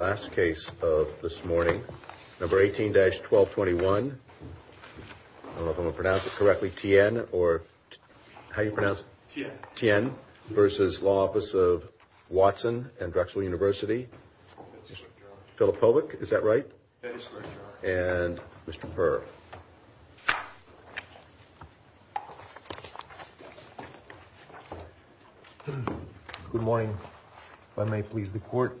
18-1221 Tien v. Law Office of Watson & Drexel Univ. Philip Povic Good morning. If I may please the court,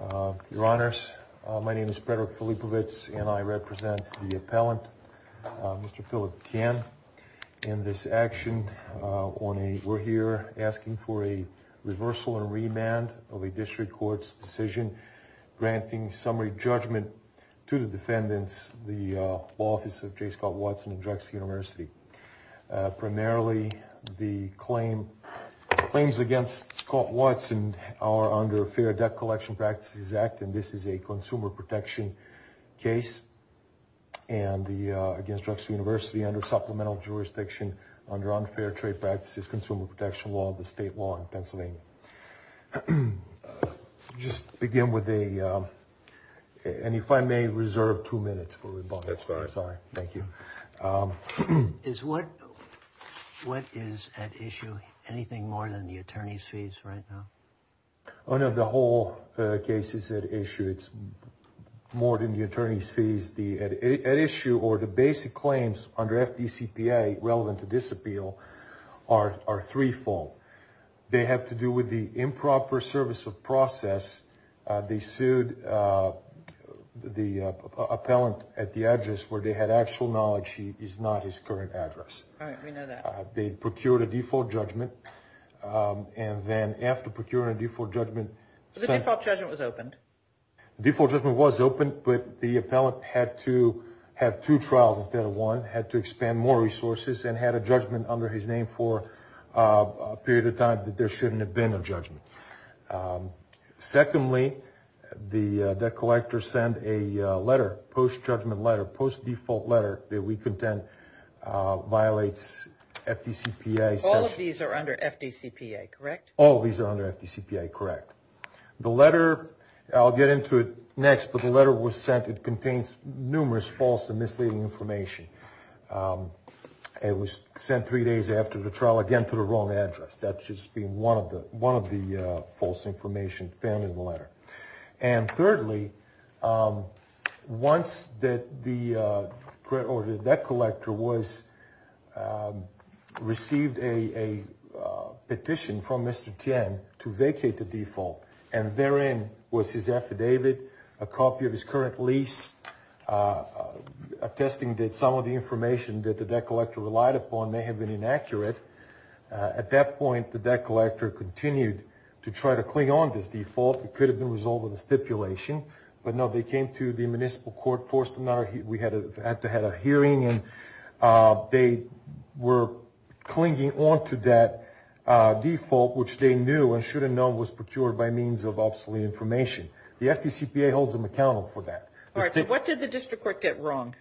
your honors, my name is Frederick Filippovitz and I represent the appellant, Mr. Philip Tien. In this action, we're here asking for a reversal and remand of a district court's decision granting summary judgment to the defendants, the Law Office of J Scott Watson & Drexel University. Primarily, the claims against Scott Watson are under Fair Debt Collection Practices Act, and this is a consumer protection case against Drexel University under supplemental jurisdiction under Unfair Trade Practices Consumer Protection Law, the state law in Pennsylvania. Just begin with a, and if I may reserve two minutes for rebuttal. That's fine. Sorry. Thank you. Is what, what is at issue? Anything more than the attorney's fees right now? Oh, no. The whole case is at issue. It's more than the attorney's fees. The at issue or the basic claims under FDCPA relevant to disappeal are, are threefold. They have to do with the improper service of process. They sued the appellant at the address where they had actual knowledge he is not his current address. All right. We know that. They procured a default judgment. And then after procuring a default judgment- The default judgment was opened. The default judgment was opened, but the appellant had to have two trials instead of one, had to expand more resources, and had a judgment under his name for a period of time that there shouldn't have been a judgment. Secondly, the debt collector sent a letter, post-judgment letter, post-default letter that we contend violates FDCPA- All of these are under FDCPA, correct? All of these are under FDCPA, correct. The letter, I'll get into it next, but the letter was sent. It contains numerous false and misleading information. It was sent three days after the trial, again, to the wrong address. That's just being one of the, one of the false information found in the letter. And thirdly, once that the, or the debt collector was, received a petition from Mr. Tian to vacate the default, and therein was his affidavit, a copy of his current lease, attesting that some of the information that the debt collector relied upon may have been inaccurate. At that point, the debt collector continued to try to cling on to this default. It could have been resolved with a stipulation, but no, they came to the default, which they knew and should have known was procured by means of obsolete information. The FDCPA holds them accountable for that. All right, so what did the district court get wrong?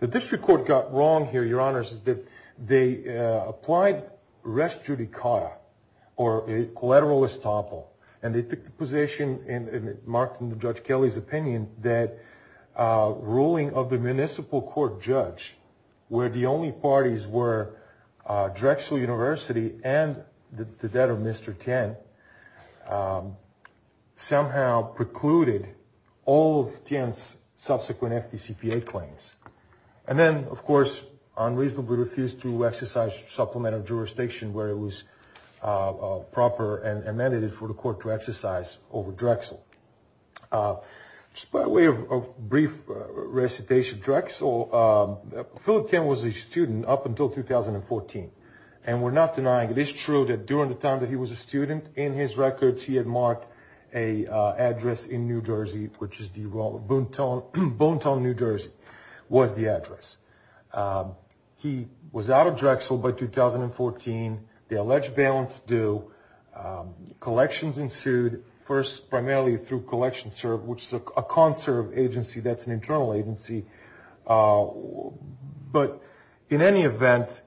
The district court got wrong here, Your Honors, is that they applied res judicata, or a collateral estoppel, and they took the position, and it marked in Judge Kelly's opinion, that ruling of the municipal court judge, where the only parties were Drexel University and the debtor, Mr. Tian, somehow precluded all of Tian's subsequent FDCPA claims. And then, of course, unreasonably refused to exercise supplement of jurisdiction where it was proper and amended for to exercise over Drexel. Just by way of brief recitation, Drexel, Philip Tian was a student up until 2014, and we're not denying it. It's true that during the time that he was a student, in his records, he had marked an address in New Jersey, which is the Bonetown, New Jersey, was the address. He was out of Drexel by 2014. The alleged bailants do collections ensued, first primarily through CollectionServe, which is a conserved agency that's an internal agency. But in any event,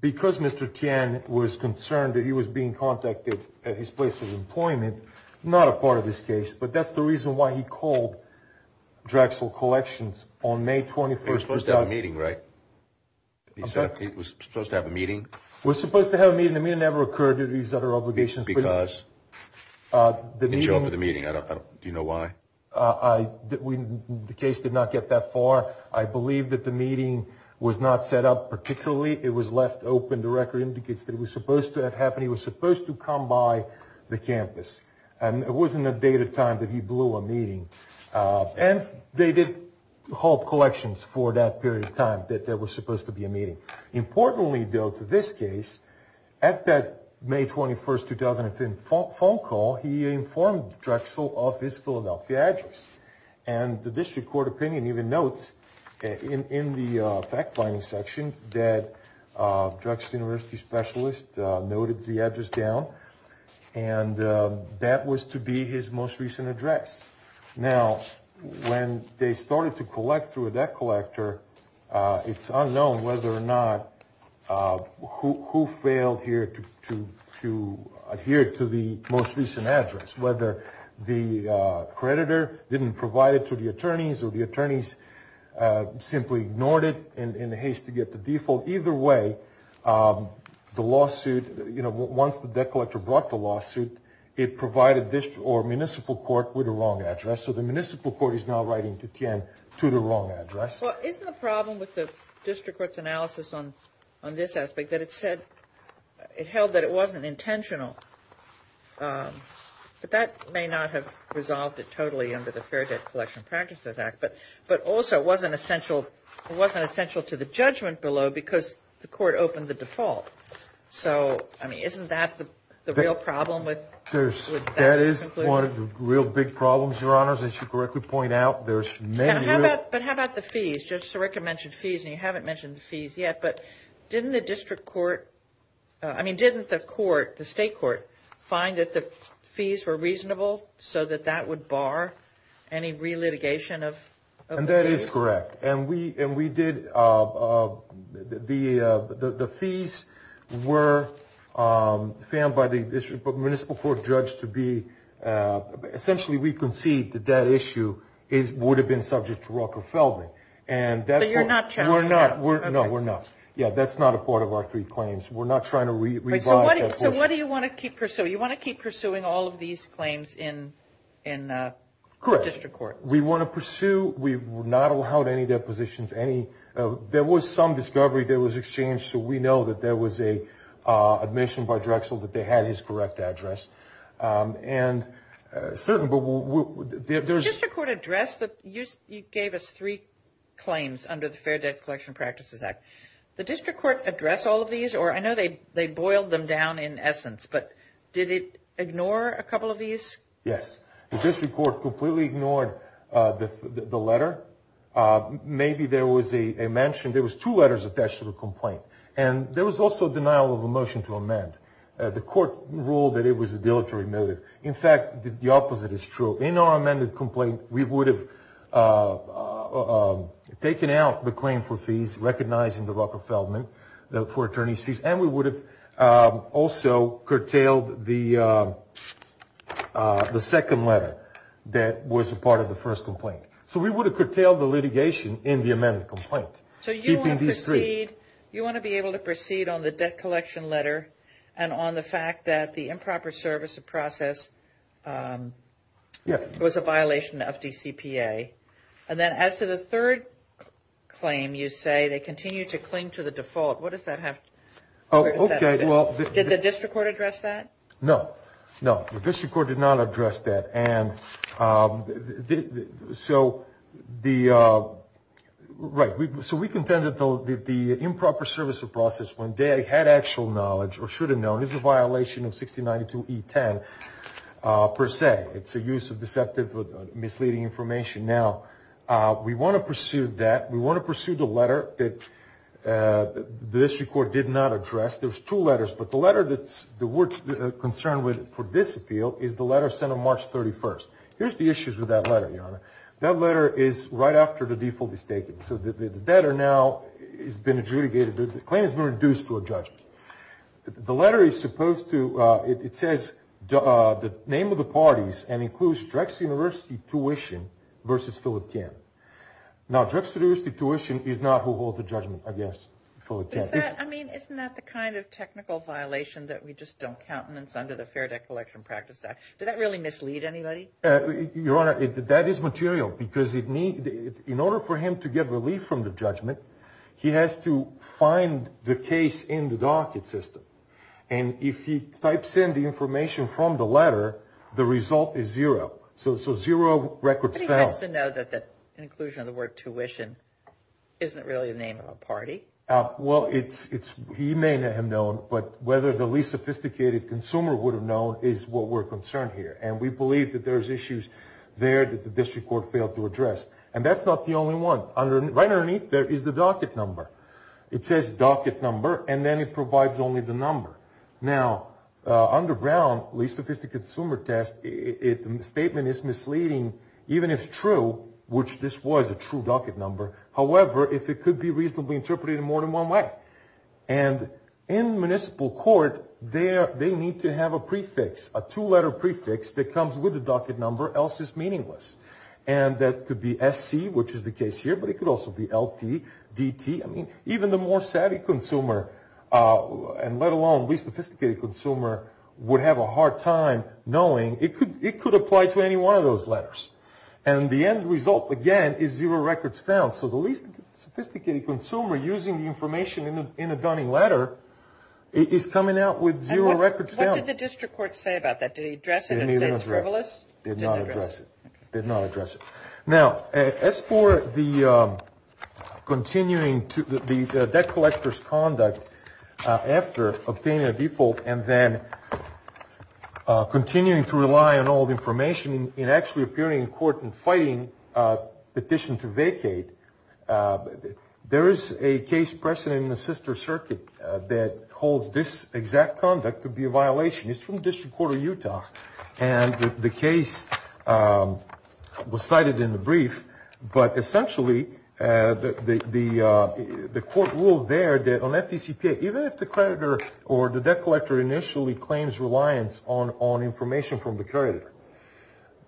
because Mr. Tian was concerned that he was being contacted at his place of employment, not a part of this case, but that's the reason why he called Drexel Collections on May 21st. He was supposed to have a meeting, right? He was supposed to have a meeting? Was supposed to have a meeting. The meeting never occurred due to these other obligations. Because he didn't show up at the meeting. Do you know why? The case did not get that far. I believe that the meeting was not set up particularly. It was left open. The record indicates that it was supposed to have happened. He was supposed to come by the campus, and it wasn't a date or time that he blew a meeting. And they did halt collections for that period of time, that there was supposed to be a meeting. Importantly, though, to this case, at that May 21st, 2005 phone call, he informed Drexel of his Philadelphia address. And the district court opinion even notes in the fact-finding section that Drexel University specialist noted the address down. And that was to be his most recent address. Now, when they started to collect through that collector, it's unknown whether or not who failed here to adhere to the most recent address. Whether the creditor didn't provide it to the attorneys, or the attorneys simply ignored it in the haste to get the default. Either way, the lawsuit, you know, once the debt collector brought the lawsuit, it provided this or municipal court with the wrong address. So the municipal court is now writing to Tien to the wrong address. Well, isn't the problem with the district court's analysis on this aspect that it said, it held that it wasn't intentional. But that may not have resolved it totally under the Fair Debt Collection Practices Act. But also, it wasn't essential to the judgment below because the court opened the default. So, I mean, isn't that the real problem with that conclusion? That is one of the real big problems, Your Honors, as you correctly point out. There's many real... But how about the fees? Judge Sirica mentioned fees, and you haven't mentioned the fees yet, but didn't the district court... I mean, didn't the court, the state court, find that the fees were reasonable so that that would bar any re-litigation of the fees? And that is correct. And we did... The fees were found by the municipal court judge to be... But you're not... We're not. No, we're not. Yeah, that's not a part of our three claims. We're not trying to revive... So what do you want to keep pursuing? You want to keep pursuing all of these claims in the district court? Correct. We want to pursue... We were not allowed any depositions, any... There was some discovery that was exchanged, so we know that there was a admission by Drexel that they had his correct address. And certainly, but there's... The district court addressed the... You gave us three claims under the Fair Debt Collection Practices Act. The district court addressed all of these, or I know they boiled them down in essence, but did it ignore a couple of these? Yes. The district court completely ignored the letter. Maybe there was a mention... There was two letters attached to the complaint, and there was also a denial of a motion to amend. The court ruled that it was a dilatory motive. In fact, the opposite is true. In our amended complaint, we would have taken out the claim for fees, recognizing the Rucker-Feldman for attorney's fees, and we would have also curtailed the second letter that was a part of the first complaint. So we would have curtailed the litigation in the amended complaint. So you want to proceed... You want to be able to proceed on the debt collection letter and on the fact that the improper service of process was a violation of DCPA. And then as to the third claim, you say they continue to cling to the default. What does that have... Oh, okay. Well... Did the district court address that? No. No. The district court did not address that. So we contended that the improper service of process, when they had actual knowledge or should have known, is a violation of 6092E10 per se. It's a use of deceptive, misleading information. Now, we want to pursue that. We want to pursue the letter that the district court did not address. There's two letters, but the letter that we're concerned with for this appeal is the letter sent on March 31st. Here's the issues with that letter, Your Honor. That letter is right after the default is taken. So the debtor now has been adjudicated. The claim has been reduced to a judgment. The letter is supposed to... It says the name of the parties and includes Drexel University tuition versus Phillip Tian. Now, Drexel University tuition is not who holds the judgment against Phillip Tian. I mean, isn't that the kind of technical violation that we just don't count and it's under the Fair Debt Collection Practice Act? Did that really mislead anybody? Your Honor, that is material because in order for him to get relief from the judgment, he has to find the case in the docket system. And if he types in the information from the letter, the result is zero. So zero records found. But he has to know that the inclusion of the isn't really the name of a party. Well, he may not have known, but whether the least sophisticated consumer would have known is what we're concerned here. And we believe that there's issues there that the district court failed to address. And that's not the only one. Right underneath there is the docket number. It says docket number, and then it provides only the number. Now, under Brown, least sophisticated consumer test, the statement is misleading, even if true, which this was a true docket number. However, if it could be reasonably interpreted in more than one way. And in municipal court, they need to have a prefix, a two-letter prefix that comes with the docket number, else it's meaningless. And that could be SC, which is the case here, but it could also be LT, DT. I mean, even the more savvy consumer, and let alone least sophisticated consumer, would have a hard time knowing. It could apply to any of those letters. And the end result, again, is zero records found. So the least sophisticated consumer using the information in a Dunning letter is coming out with zero records found. And what did the district court say about that? Did he address it and say it's frivolous? Did not address it. Did not address it. Now, as for the debt collector's conduct after obtaining a default and then continuing to rely on all the information in actually appearing in court and fighting a petition to vacate, there is a case precedent in the sister circuit that holds this exact conduct to be a violation. It's from District Court of Utah. And the case was cited in the brief. But essentially, the court ruled there that on FDCPA, even if the creditor or the debt collector initially claims reliance on information from the creditor,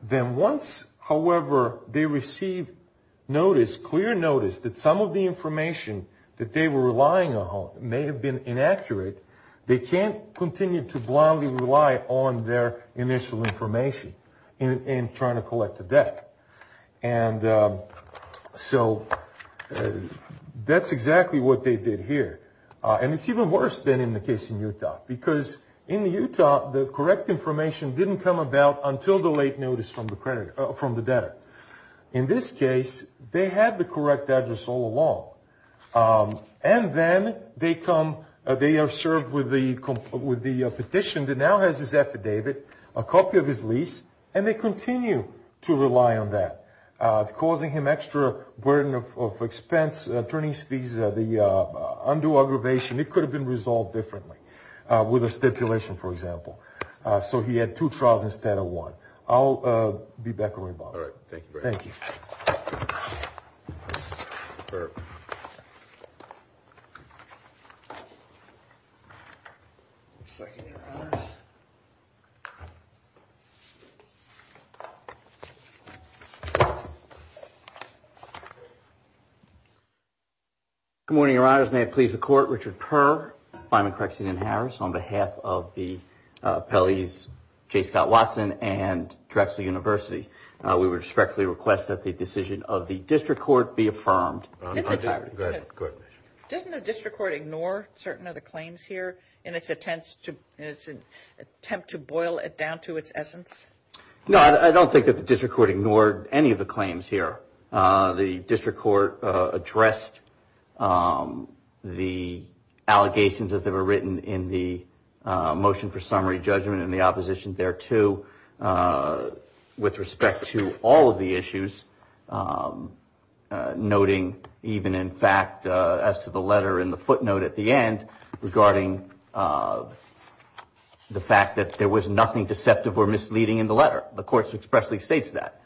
then once, however, they receive notice, clear notice, that some of the information that they were relying on may have been inaccurate, they can't continue to blindly rely on their initial information in trying to collect the debt. And so that's exactly what they did here. And it's even worse than in the case in Utah, because in Utah, the correct information didn't come about until the late notice from the debtor. In this case, they had the correct address all along. And then they come, they are served with the petition that now has this affidavit, a copy of his lease, and they continue to rely on that, causing him extra burden of expense, attorney's fees, the undue aggravation. It could have been resolved differently with a stipulation, for example. So he had two trials instead of one. I'll be back. Thank you. Good morning, your honors. May it please the court, Richard Purr, Fineman, Craxton, and Harris, on behalf of the appellees J. Scott Watson and Drexel University, we respectfully request that the decision of the district court be affirmed. Doesn't the district court ignore certain of the claims here in its attempt to boil it down to its essence? No, I don't think that the district court ignored any of the claims here. The district court addressed the allegations as they were written in the motion for summary judgment and the opposition thereto with respect to all of the issues, noting even in fact as to the letter in the footnote at the end regarding the fact that there was nothing deceptive or misleading in the letter. The court expressly states that,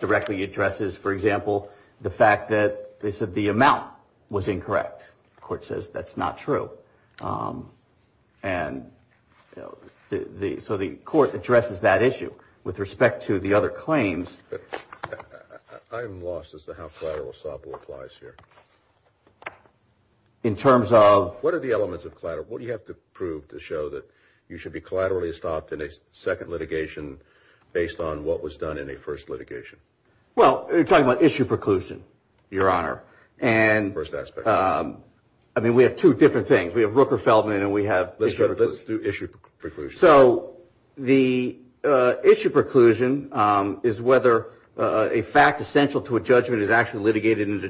directly addresses, for example, the fact that they said the amount was incorrect. Court says that's not true. And so the court addresses that issue with respect to the other claims. I'm lost as to how collateral assault applies here. In terms of what are the elements of collateral? What do you have to prove to show that you should be collaterally stopped in a litigation based on what was done in a first litigation? Well, you're talking about issue preclusion, your honor. First aspect. I mean, we have two different things. We have Rooker-Feldman and we have issue preclusion. Let's do issue preclusion. So the issue preclusion is whether a fact essential to a judgment is actually litigated and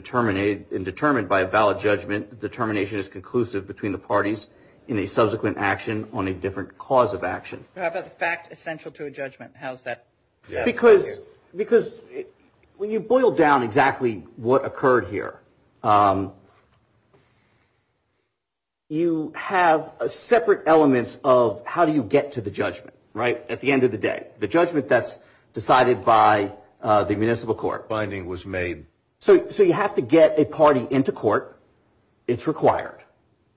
determined by a valid judgment. Determination is conclusive between the parties in a subsequent action on a different cause of How is that? Because when you boil down exactly what occurred here, you have separate elements of how do you get to the judgment, right? At the end of the day, the judgment that's decided by the municipal court. So you have to get a party into court. It's required.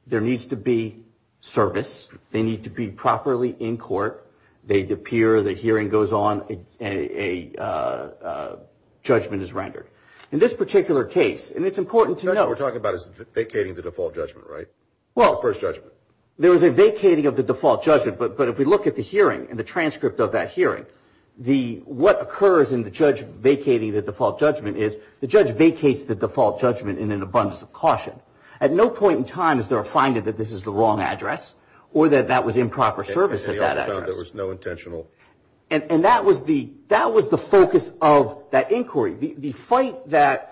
There needs to be service. They need to be properly in court. They appear, the hearing goes on, a judgment is rendered. In this particular case, and it's important to know What we're talking about is vacating the default judgment, right? The first judgment. There is a vacating of the default judgment, but if we look at the hearing and the transcript of that hearing, what occurs in the judge vacating the default judgment is the judge vacates the caution. At no point in time is there a finding that this is the wrong address or that that was improper service at that address. And that was the focus of that inquiry. The fight that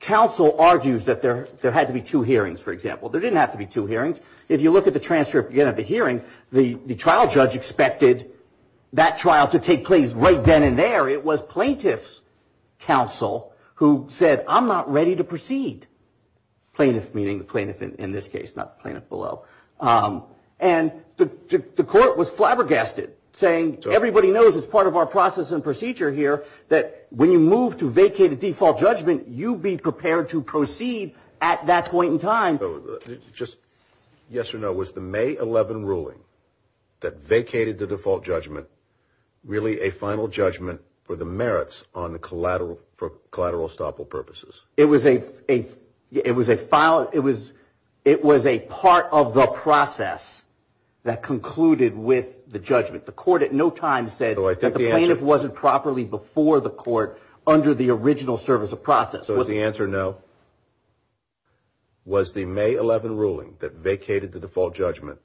counsel argues that there had to be two hearings, for example. There didn't have to be two hearings. If you look at the transcript of the hearing, the trial judge expected that trial to take place right then and there. It was plaintiff's counsel who said, I'm not ready to proceed. Plaintiff, meaning the plaintiff in this case, not plaintiff below. And the court was flabbergasted saying, everybody knows it's part of our process and procedure here that when you move to vacate the default judgment, you be prepared to proceed at that point in time. Just yes or no, was the May 11 ruling that vacated the default judgment really a final judgment for the merits on the collateral for collateral estoppel purposes? It was a, it was a file. It was, it was a part of the process that concluded with the judgment. The court at no time said that the plaintiff wasn't properly before the court under the original service of process. Was the answer no? Was the May 11 ruling that vacated the default judgment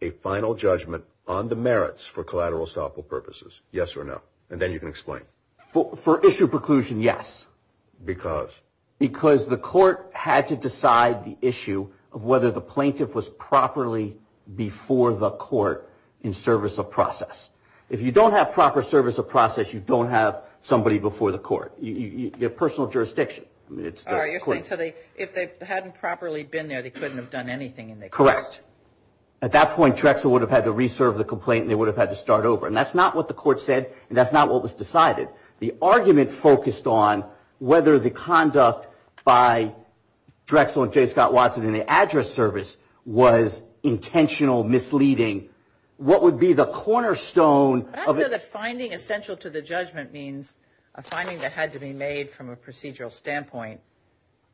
a final judgment on the merits for collateral estoppel purposes? Yes or no? And then you can explain. For issue preclusion, yes. Because? Because the court had to decide the issue of whether the plaintiff was properly before the court in service of process. If you don't have proper service of process, you don't have somebody before the court. Your personal jurisdiction. If they hadn't properly been there, they couldn't have done anything. Correct. At that point, Drexel would have had to reserve the complaint and they would have had to start over. And that's not what the court said, and that's not what was decided. The argument focused on whether the conduct by Drexel and J. Scott Watson in the address service was intentional, misleading. What would be the cornerstone? Finding essential to the judgment means a finding that had to be made from a procedural standpoint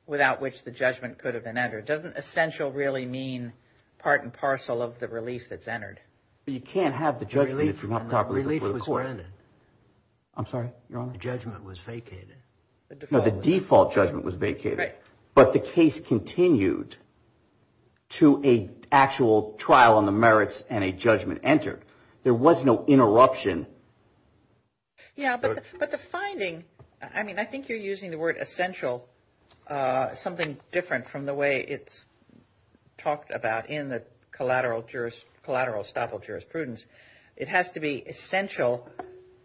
without which the judgment could have been entered. Doesn't essential really mean part and parcel of the relief that's entered? But you can't have the judgment if you're not properly before the court. Relief was granted. I'm sorry, Your Honor? The judgment was vacated. No, the default judgment was vacated. But the case continued to an actual trial on the merits and a judgment entered. There was no interruption. Yeah, but the finding, I mean, I think you're using the word essential, something different from the way it's talked about in the collateral collateral estoppel jurisprudence. It has to be essential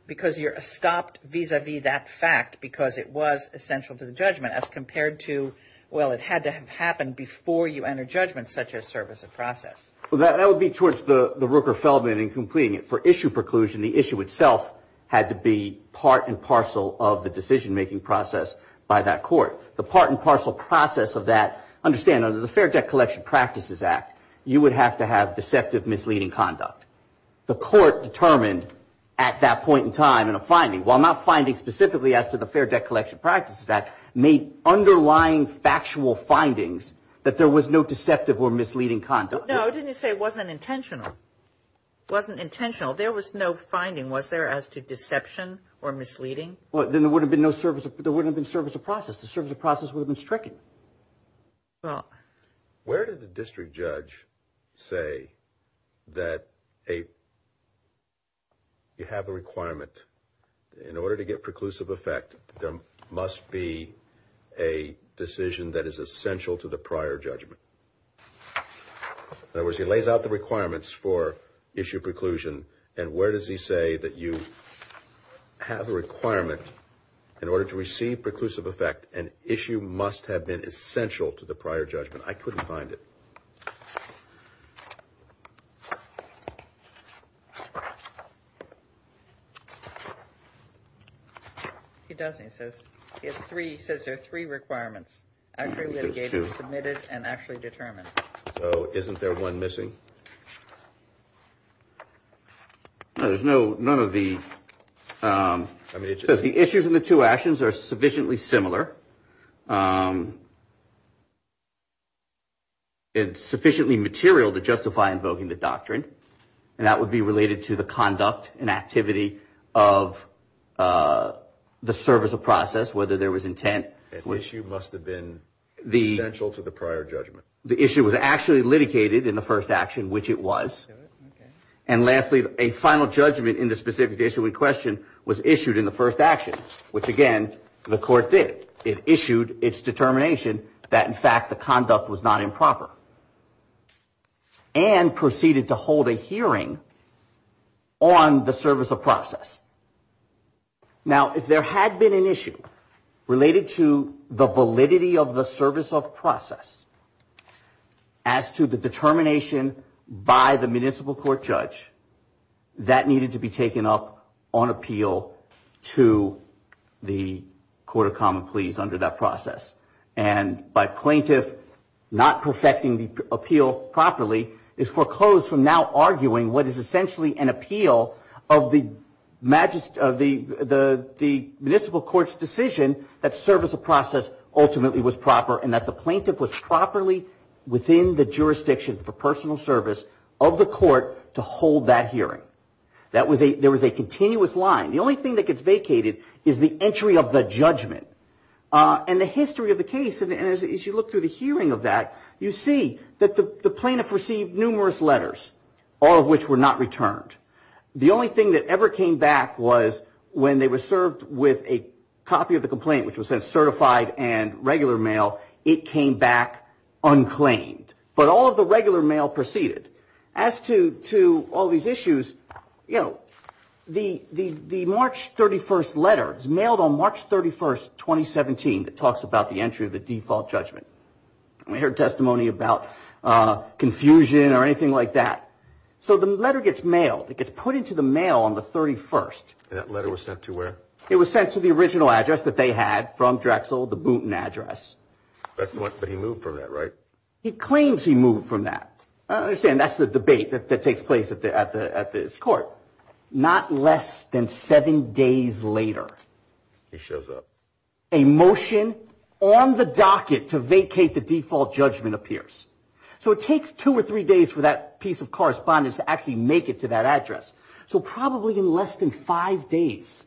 because you're stopped vis-a-vis that fact because it was essential to the judgment as compared to, well, it had to have happened before you enter judgment such as service of process. Well, that would be towards the Rooker-Feldman in completing it. For issue preclusion, the issue itself had to be part and parcel of the decision making process by that court. The part and parcel process of that, understand, under the Fair Debt Collection Practices Act, you would have to have deceptive, misleading conduct. The court determined at that point in time in a finding, while not finding specifically as to the Fair Debt Collection Practices Act, made underlying factual findings that there was no deceptive or misleading conduct. No, I didn't say it wasn't intentional. It wasn't intentional. There was no finding, was there, as to deception or misleading? Well, then there would have been no service, there wouldn't have been service of process. The service of process would have been stricken. Well, where did the district judge say that you have a requirement in order to get preclusive effect, there must be a decision that is essential to the prior judgment? In other words, he lays out the requirements for issue preclusion, and where does he say that you have a requirement in order to receive preclusive effect, an issue must have been essential to the prior judgment? I couldn't find it. He doesn't. He says there are three requirements, actually litigated, submitted, and actually determined. So isn't there one missing? No, there's no, none of the, I mean, it says the issues in the two actions are sufficiently similar. It's sufficiently material to justify invoking the doctrine, and that would be related to the conduct and activity of the service of process, whether there was intent. The issue must have been essential to the prior judgment. The issue was actually litigated in the first action, which it was. And lastly, a final judgment in the specific issue in question was issued in the first action, which, again, the court did. It issued its determination that, in fact, the conduct was not improper. And proceeded to hold a hearing on the service of process. Now, if there had been an issue related to the validity of the service of process as to the determination by the municipal court judge, that needed to be taken up on appeal to the court of common pleas under that process. And by plaintiff not perfecting the appeal properly, is foreclosed from now ultimately was proper, and that the plaintiff was properly within the jurisdiction for personal service of the court to hold that hearing. That was a, there was a continuous line. The only thing that gets vacated is the entry of the judgment. And the history of the case, and as you look through the hearing of that, you see that the plaintiff received numerous letters, all of which were not certified and regular mail. It came back unclaimed. But all of the regular mail proceeded. As to all these issues, you know, the March 31st letter is mailed on March 31st, 2017, that talks about the entry of the default judgment. And we heard testimony about confusion or anything like that. So the letter gets mailed. It gets put into the mail on the 31st. And that letter was sent to where? It was sent to the original address that they had from Drexel, the Boonton address. But he moved from that, right? He claims he moved from that. I understand that's the debate that takes place at this court. Not less than seven days later. He shows up. A motion on the docket to vacate the default judgment appears. So it takes two or three days for that piece of correspondence to actually five days.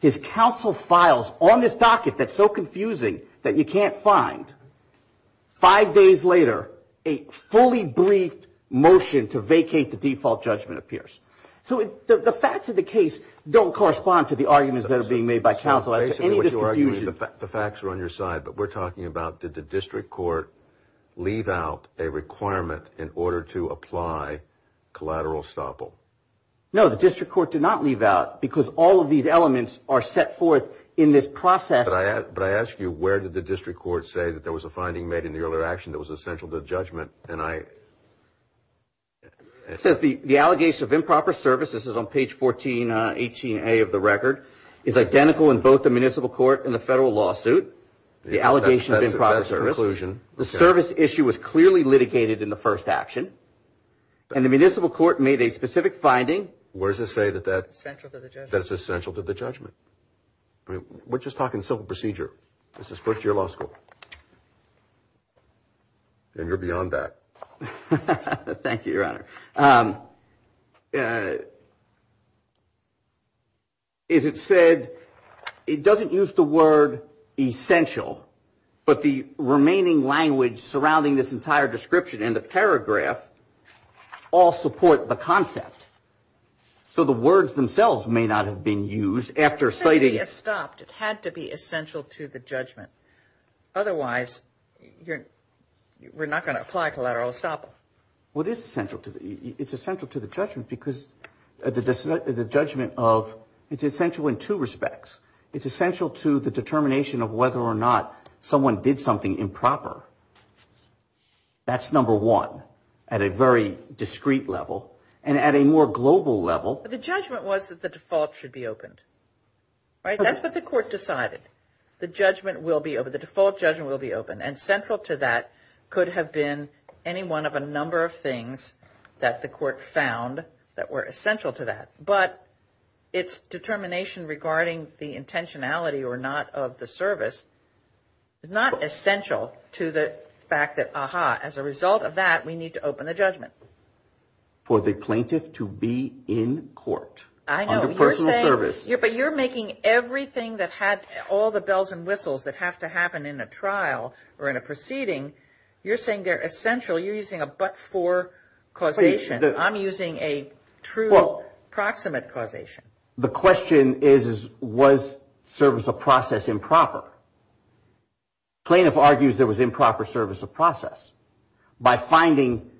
His counsel files on this docket that's so confusing that you can't find. Five days later, a fully briefed motion to vacate the default judgment appears. So the facts of the case don't correspond to the arguments that are being made by counsel. The facts are on your side, but we're talking about did the district court leave out a requirement in order to apply collateral estoppel? No, the district court did not leave out because all of these elements are set forth in this process. But I ask you, where did the district court say that there was a finding made in the earlier action that was essential to the judgment? It says the allegation of improper service, this is on page 1418A of the record, is identical in both the municipal court and the federal lawsuit. That's a conclusion. The service issue was clearly litigated in the first action, and the municipal court made a specific finding. Where does it say that that is essential to the judgment? We're just talking simple procedure. This is first year law school. Thank you, Your Honor. What it says is it said, it doesn't use the word essential, but the remaining language surrounding this entire description and the paragraph all support the concept. So the words themselves may not have been used after citing. It had to be essential to the judgment. Otherwise, we're not going to apply collateral estoppel. What is essential? It's essential to the judgment because the judgment of, it's essential in two respects. It's essential to the determination of whether or not someone did something improper. That's number one at a very discreet level. And at a more global level. The judgment was that the default should be opened. Right? That's what the court decided. The judgment will be open. The default judgment will be open. And central to that could have been any one of a number of things that the court found that were essential to that. But its determination regarding the intentionality or not of the service is not essential to the fact that, aha, as a result of that, we need to open the judgment. For the plaintiff to be in court. I know. Under personal service. But you're making everything that had all the bells and whistles that have to happen in a trial or in a proceeding, you're saying they're essential. You're using a but-for causation. I'm using a true proximate causation. The question is, was service of process improper? Plaintiff argues there was improper service of process. By finding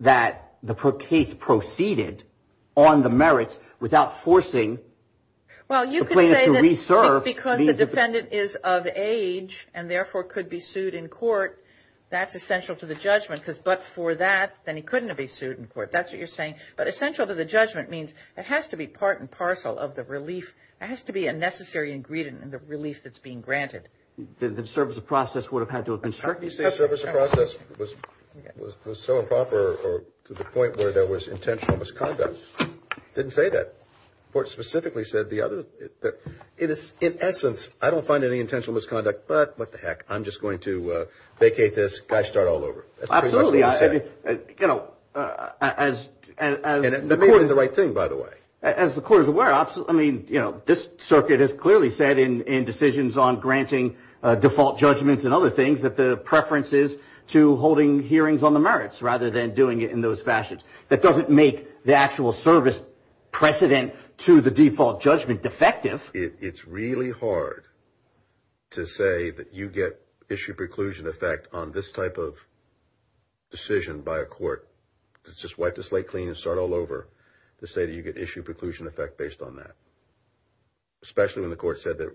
that the case proceeded on the merits without forcing the plaintiff to reserve. Well, you could say that because the defendant is of age and, therefore, could be sued in court, that's essential to the judgment. Because but for that, then he couldn't have been sued in court. That's what you're saying. But essential to the judgment means it has to be part and parcel of the relief. It has to be a necessary ingredient in the relief that's being granted. The service of process would have had to have been certain. You say service of process was so improper to the point where there was intentional misconduct. Didn't say that. The court specifically said the other. It is, in essence, I don't find any intentional misconduct, but what the heck, I'm just going to vacate this, guys start all over. Absolutely. You know, as. The court is the right thing, by the way. As the court is aware, I mean, you know, this circuit has clearly said in decisions on granting default judgments and other things that the preference is to holding hearings on the merits rather than doing it in those fashions. That doesn't make the actual service precedent to the default judgment defective. It's really hard to say that you get issue preclusion effect on this type of decision by a court. It's just wipe the slate clean and start all over to say that you get issue preclusion effect based on that. Especially when the court said that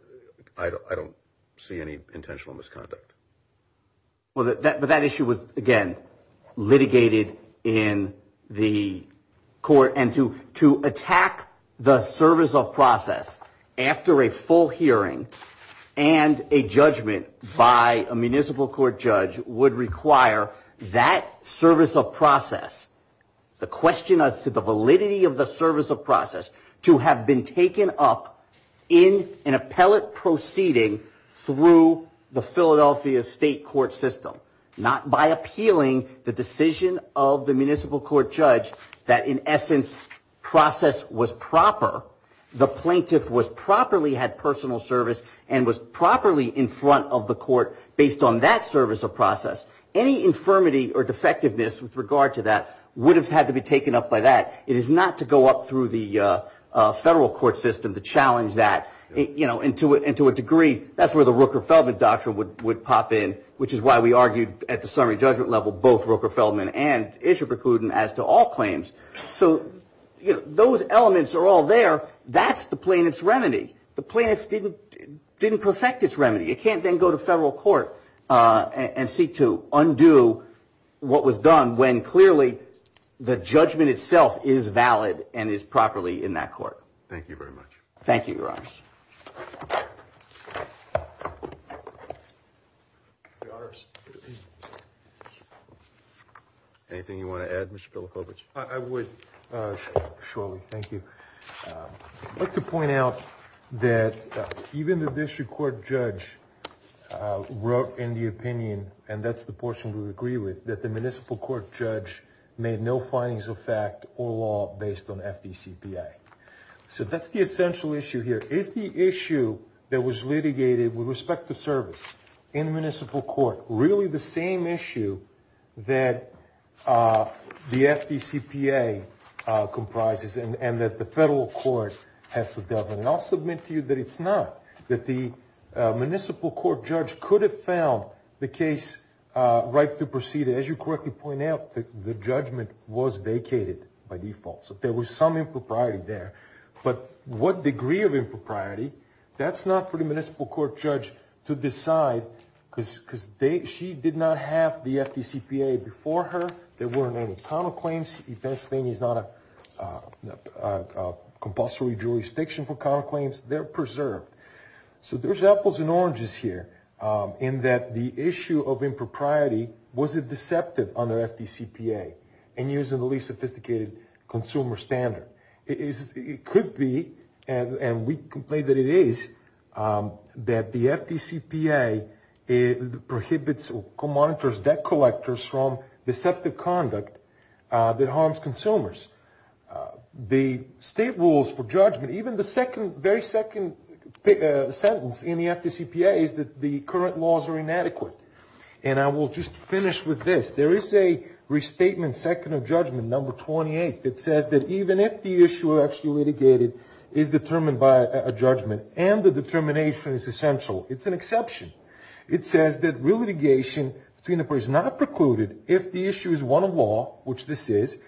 I don't see any intentional misconduct. Well, that but that issue was, again, litigated in the court and to to attack the service of process after a full hearing and a judgment by a municipal court judge would require that service of process. The question as to the validity of the service of process to have been taken up in an appellate proceeding through the Philadelphia state court system, not by appealing the decision of the municipal court judge that in essence process was proper. The plaintiff was properly had personal service and was properly in front of the court based on that service of process. Any infirmity or defectiveness with regard to that would have had to be taken up by that. It is not to go up through the federal court system to challenge that, you know, into it into a degree. That's where the Rooker Feldman doctrine would would pop in, which is why we argued at the summary judgment level, both Rooker Feldman and issue precluding as to all claims. So those elements are all there. That's the plaintiff's remedy. The plaintiff didn't didn't perfect its remedy. You can't then go to federal court and seek to undo what was done when clearly the judgment itself is valid and is properly in that court. Thank you very much. Thank you. Anything you want to add? I would. Surely. Thank you. I'd like to point out that even the district court judge wrote in the opinion, and that's the portion we agree with, that the municipal court judge made no findings of fact or law based on FDCPA. So that's the essential issue here. Is the issue that was litigated with respect to service in the municipal court really the same issue that the FDCPA comprises and that the federal court has to deal with? And I'll submit to you that it's not, that the municipal court judge could have found the case right to proceed. As you correctly point out, the judgment was vacated by default. So there was some impropriety there. But what degree of impropriety? That's not for the municipal court judge to decide because she did not have the FDCPA before her. There weren't any counterclaims. Pennsylvania is not a compulsory jurisdiction for counterclaims. They're preserved. So there's apples and oranges here in that the issue of impropriety wasn't deceptive under FDCPA and using the least sophisticated consumer standard. It could be, and we complain that it is, that the FDCPA prohibits or monitors debt collectors from deceptive conduct that harms consumers. The state rules for judgment, even the second, very second sentence in the FDCPA is that the current laws are inadequate. And I will just finish with this. There is a restatement second of judgment, number 28, that says that even if the issue actually litigated is determined by a judgment and the determination is essential. It's an exception. It says that real litigation between the parties is not precluded if the issue is one of law, which this is,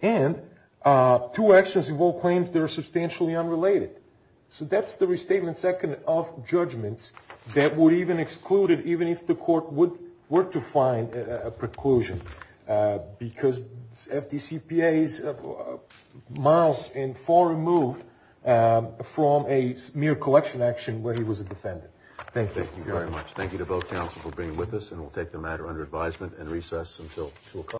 and two actions involve claims that are substantially unrelated. So that's the restatement second of judgments that would even exclude it even if the court were to find a preclusion because FDCPA is miles and far removed from a mere collection action where he was a defendant. Thank you. Thank you very much. Thank you to both counsel for being with us, and we'll take the matter under advisement and recess until 2 o'clock.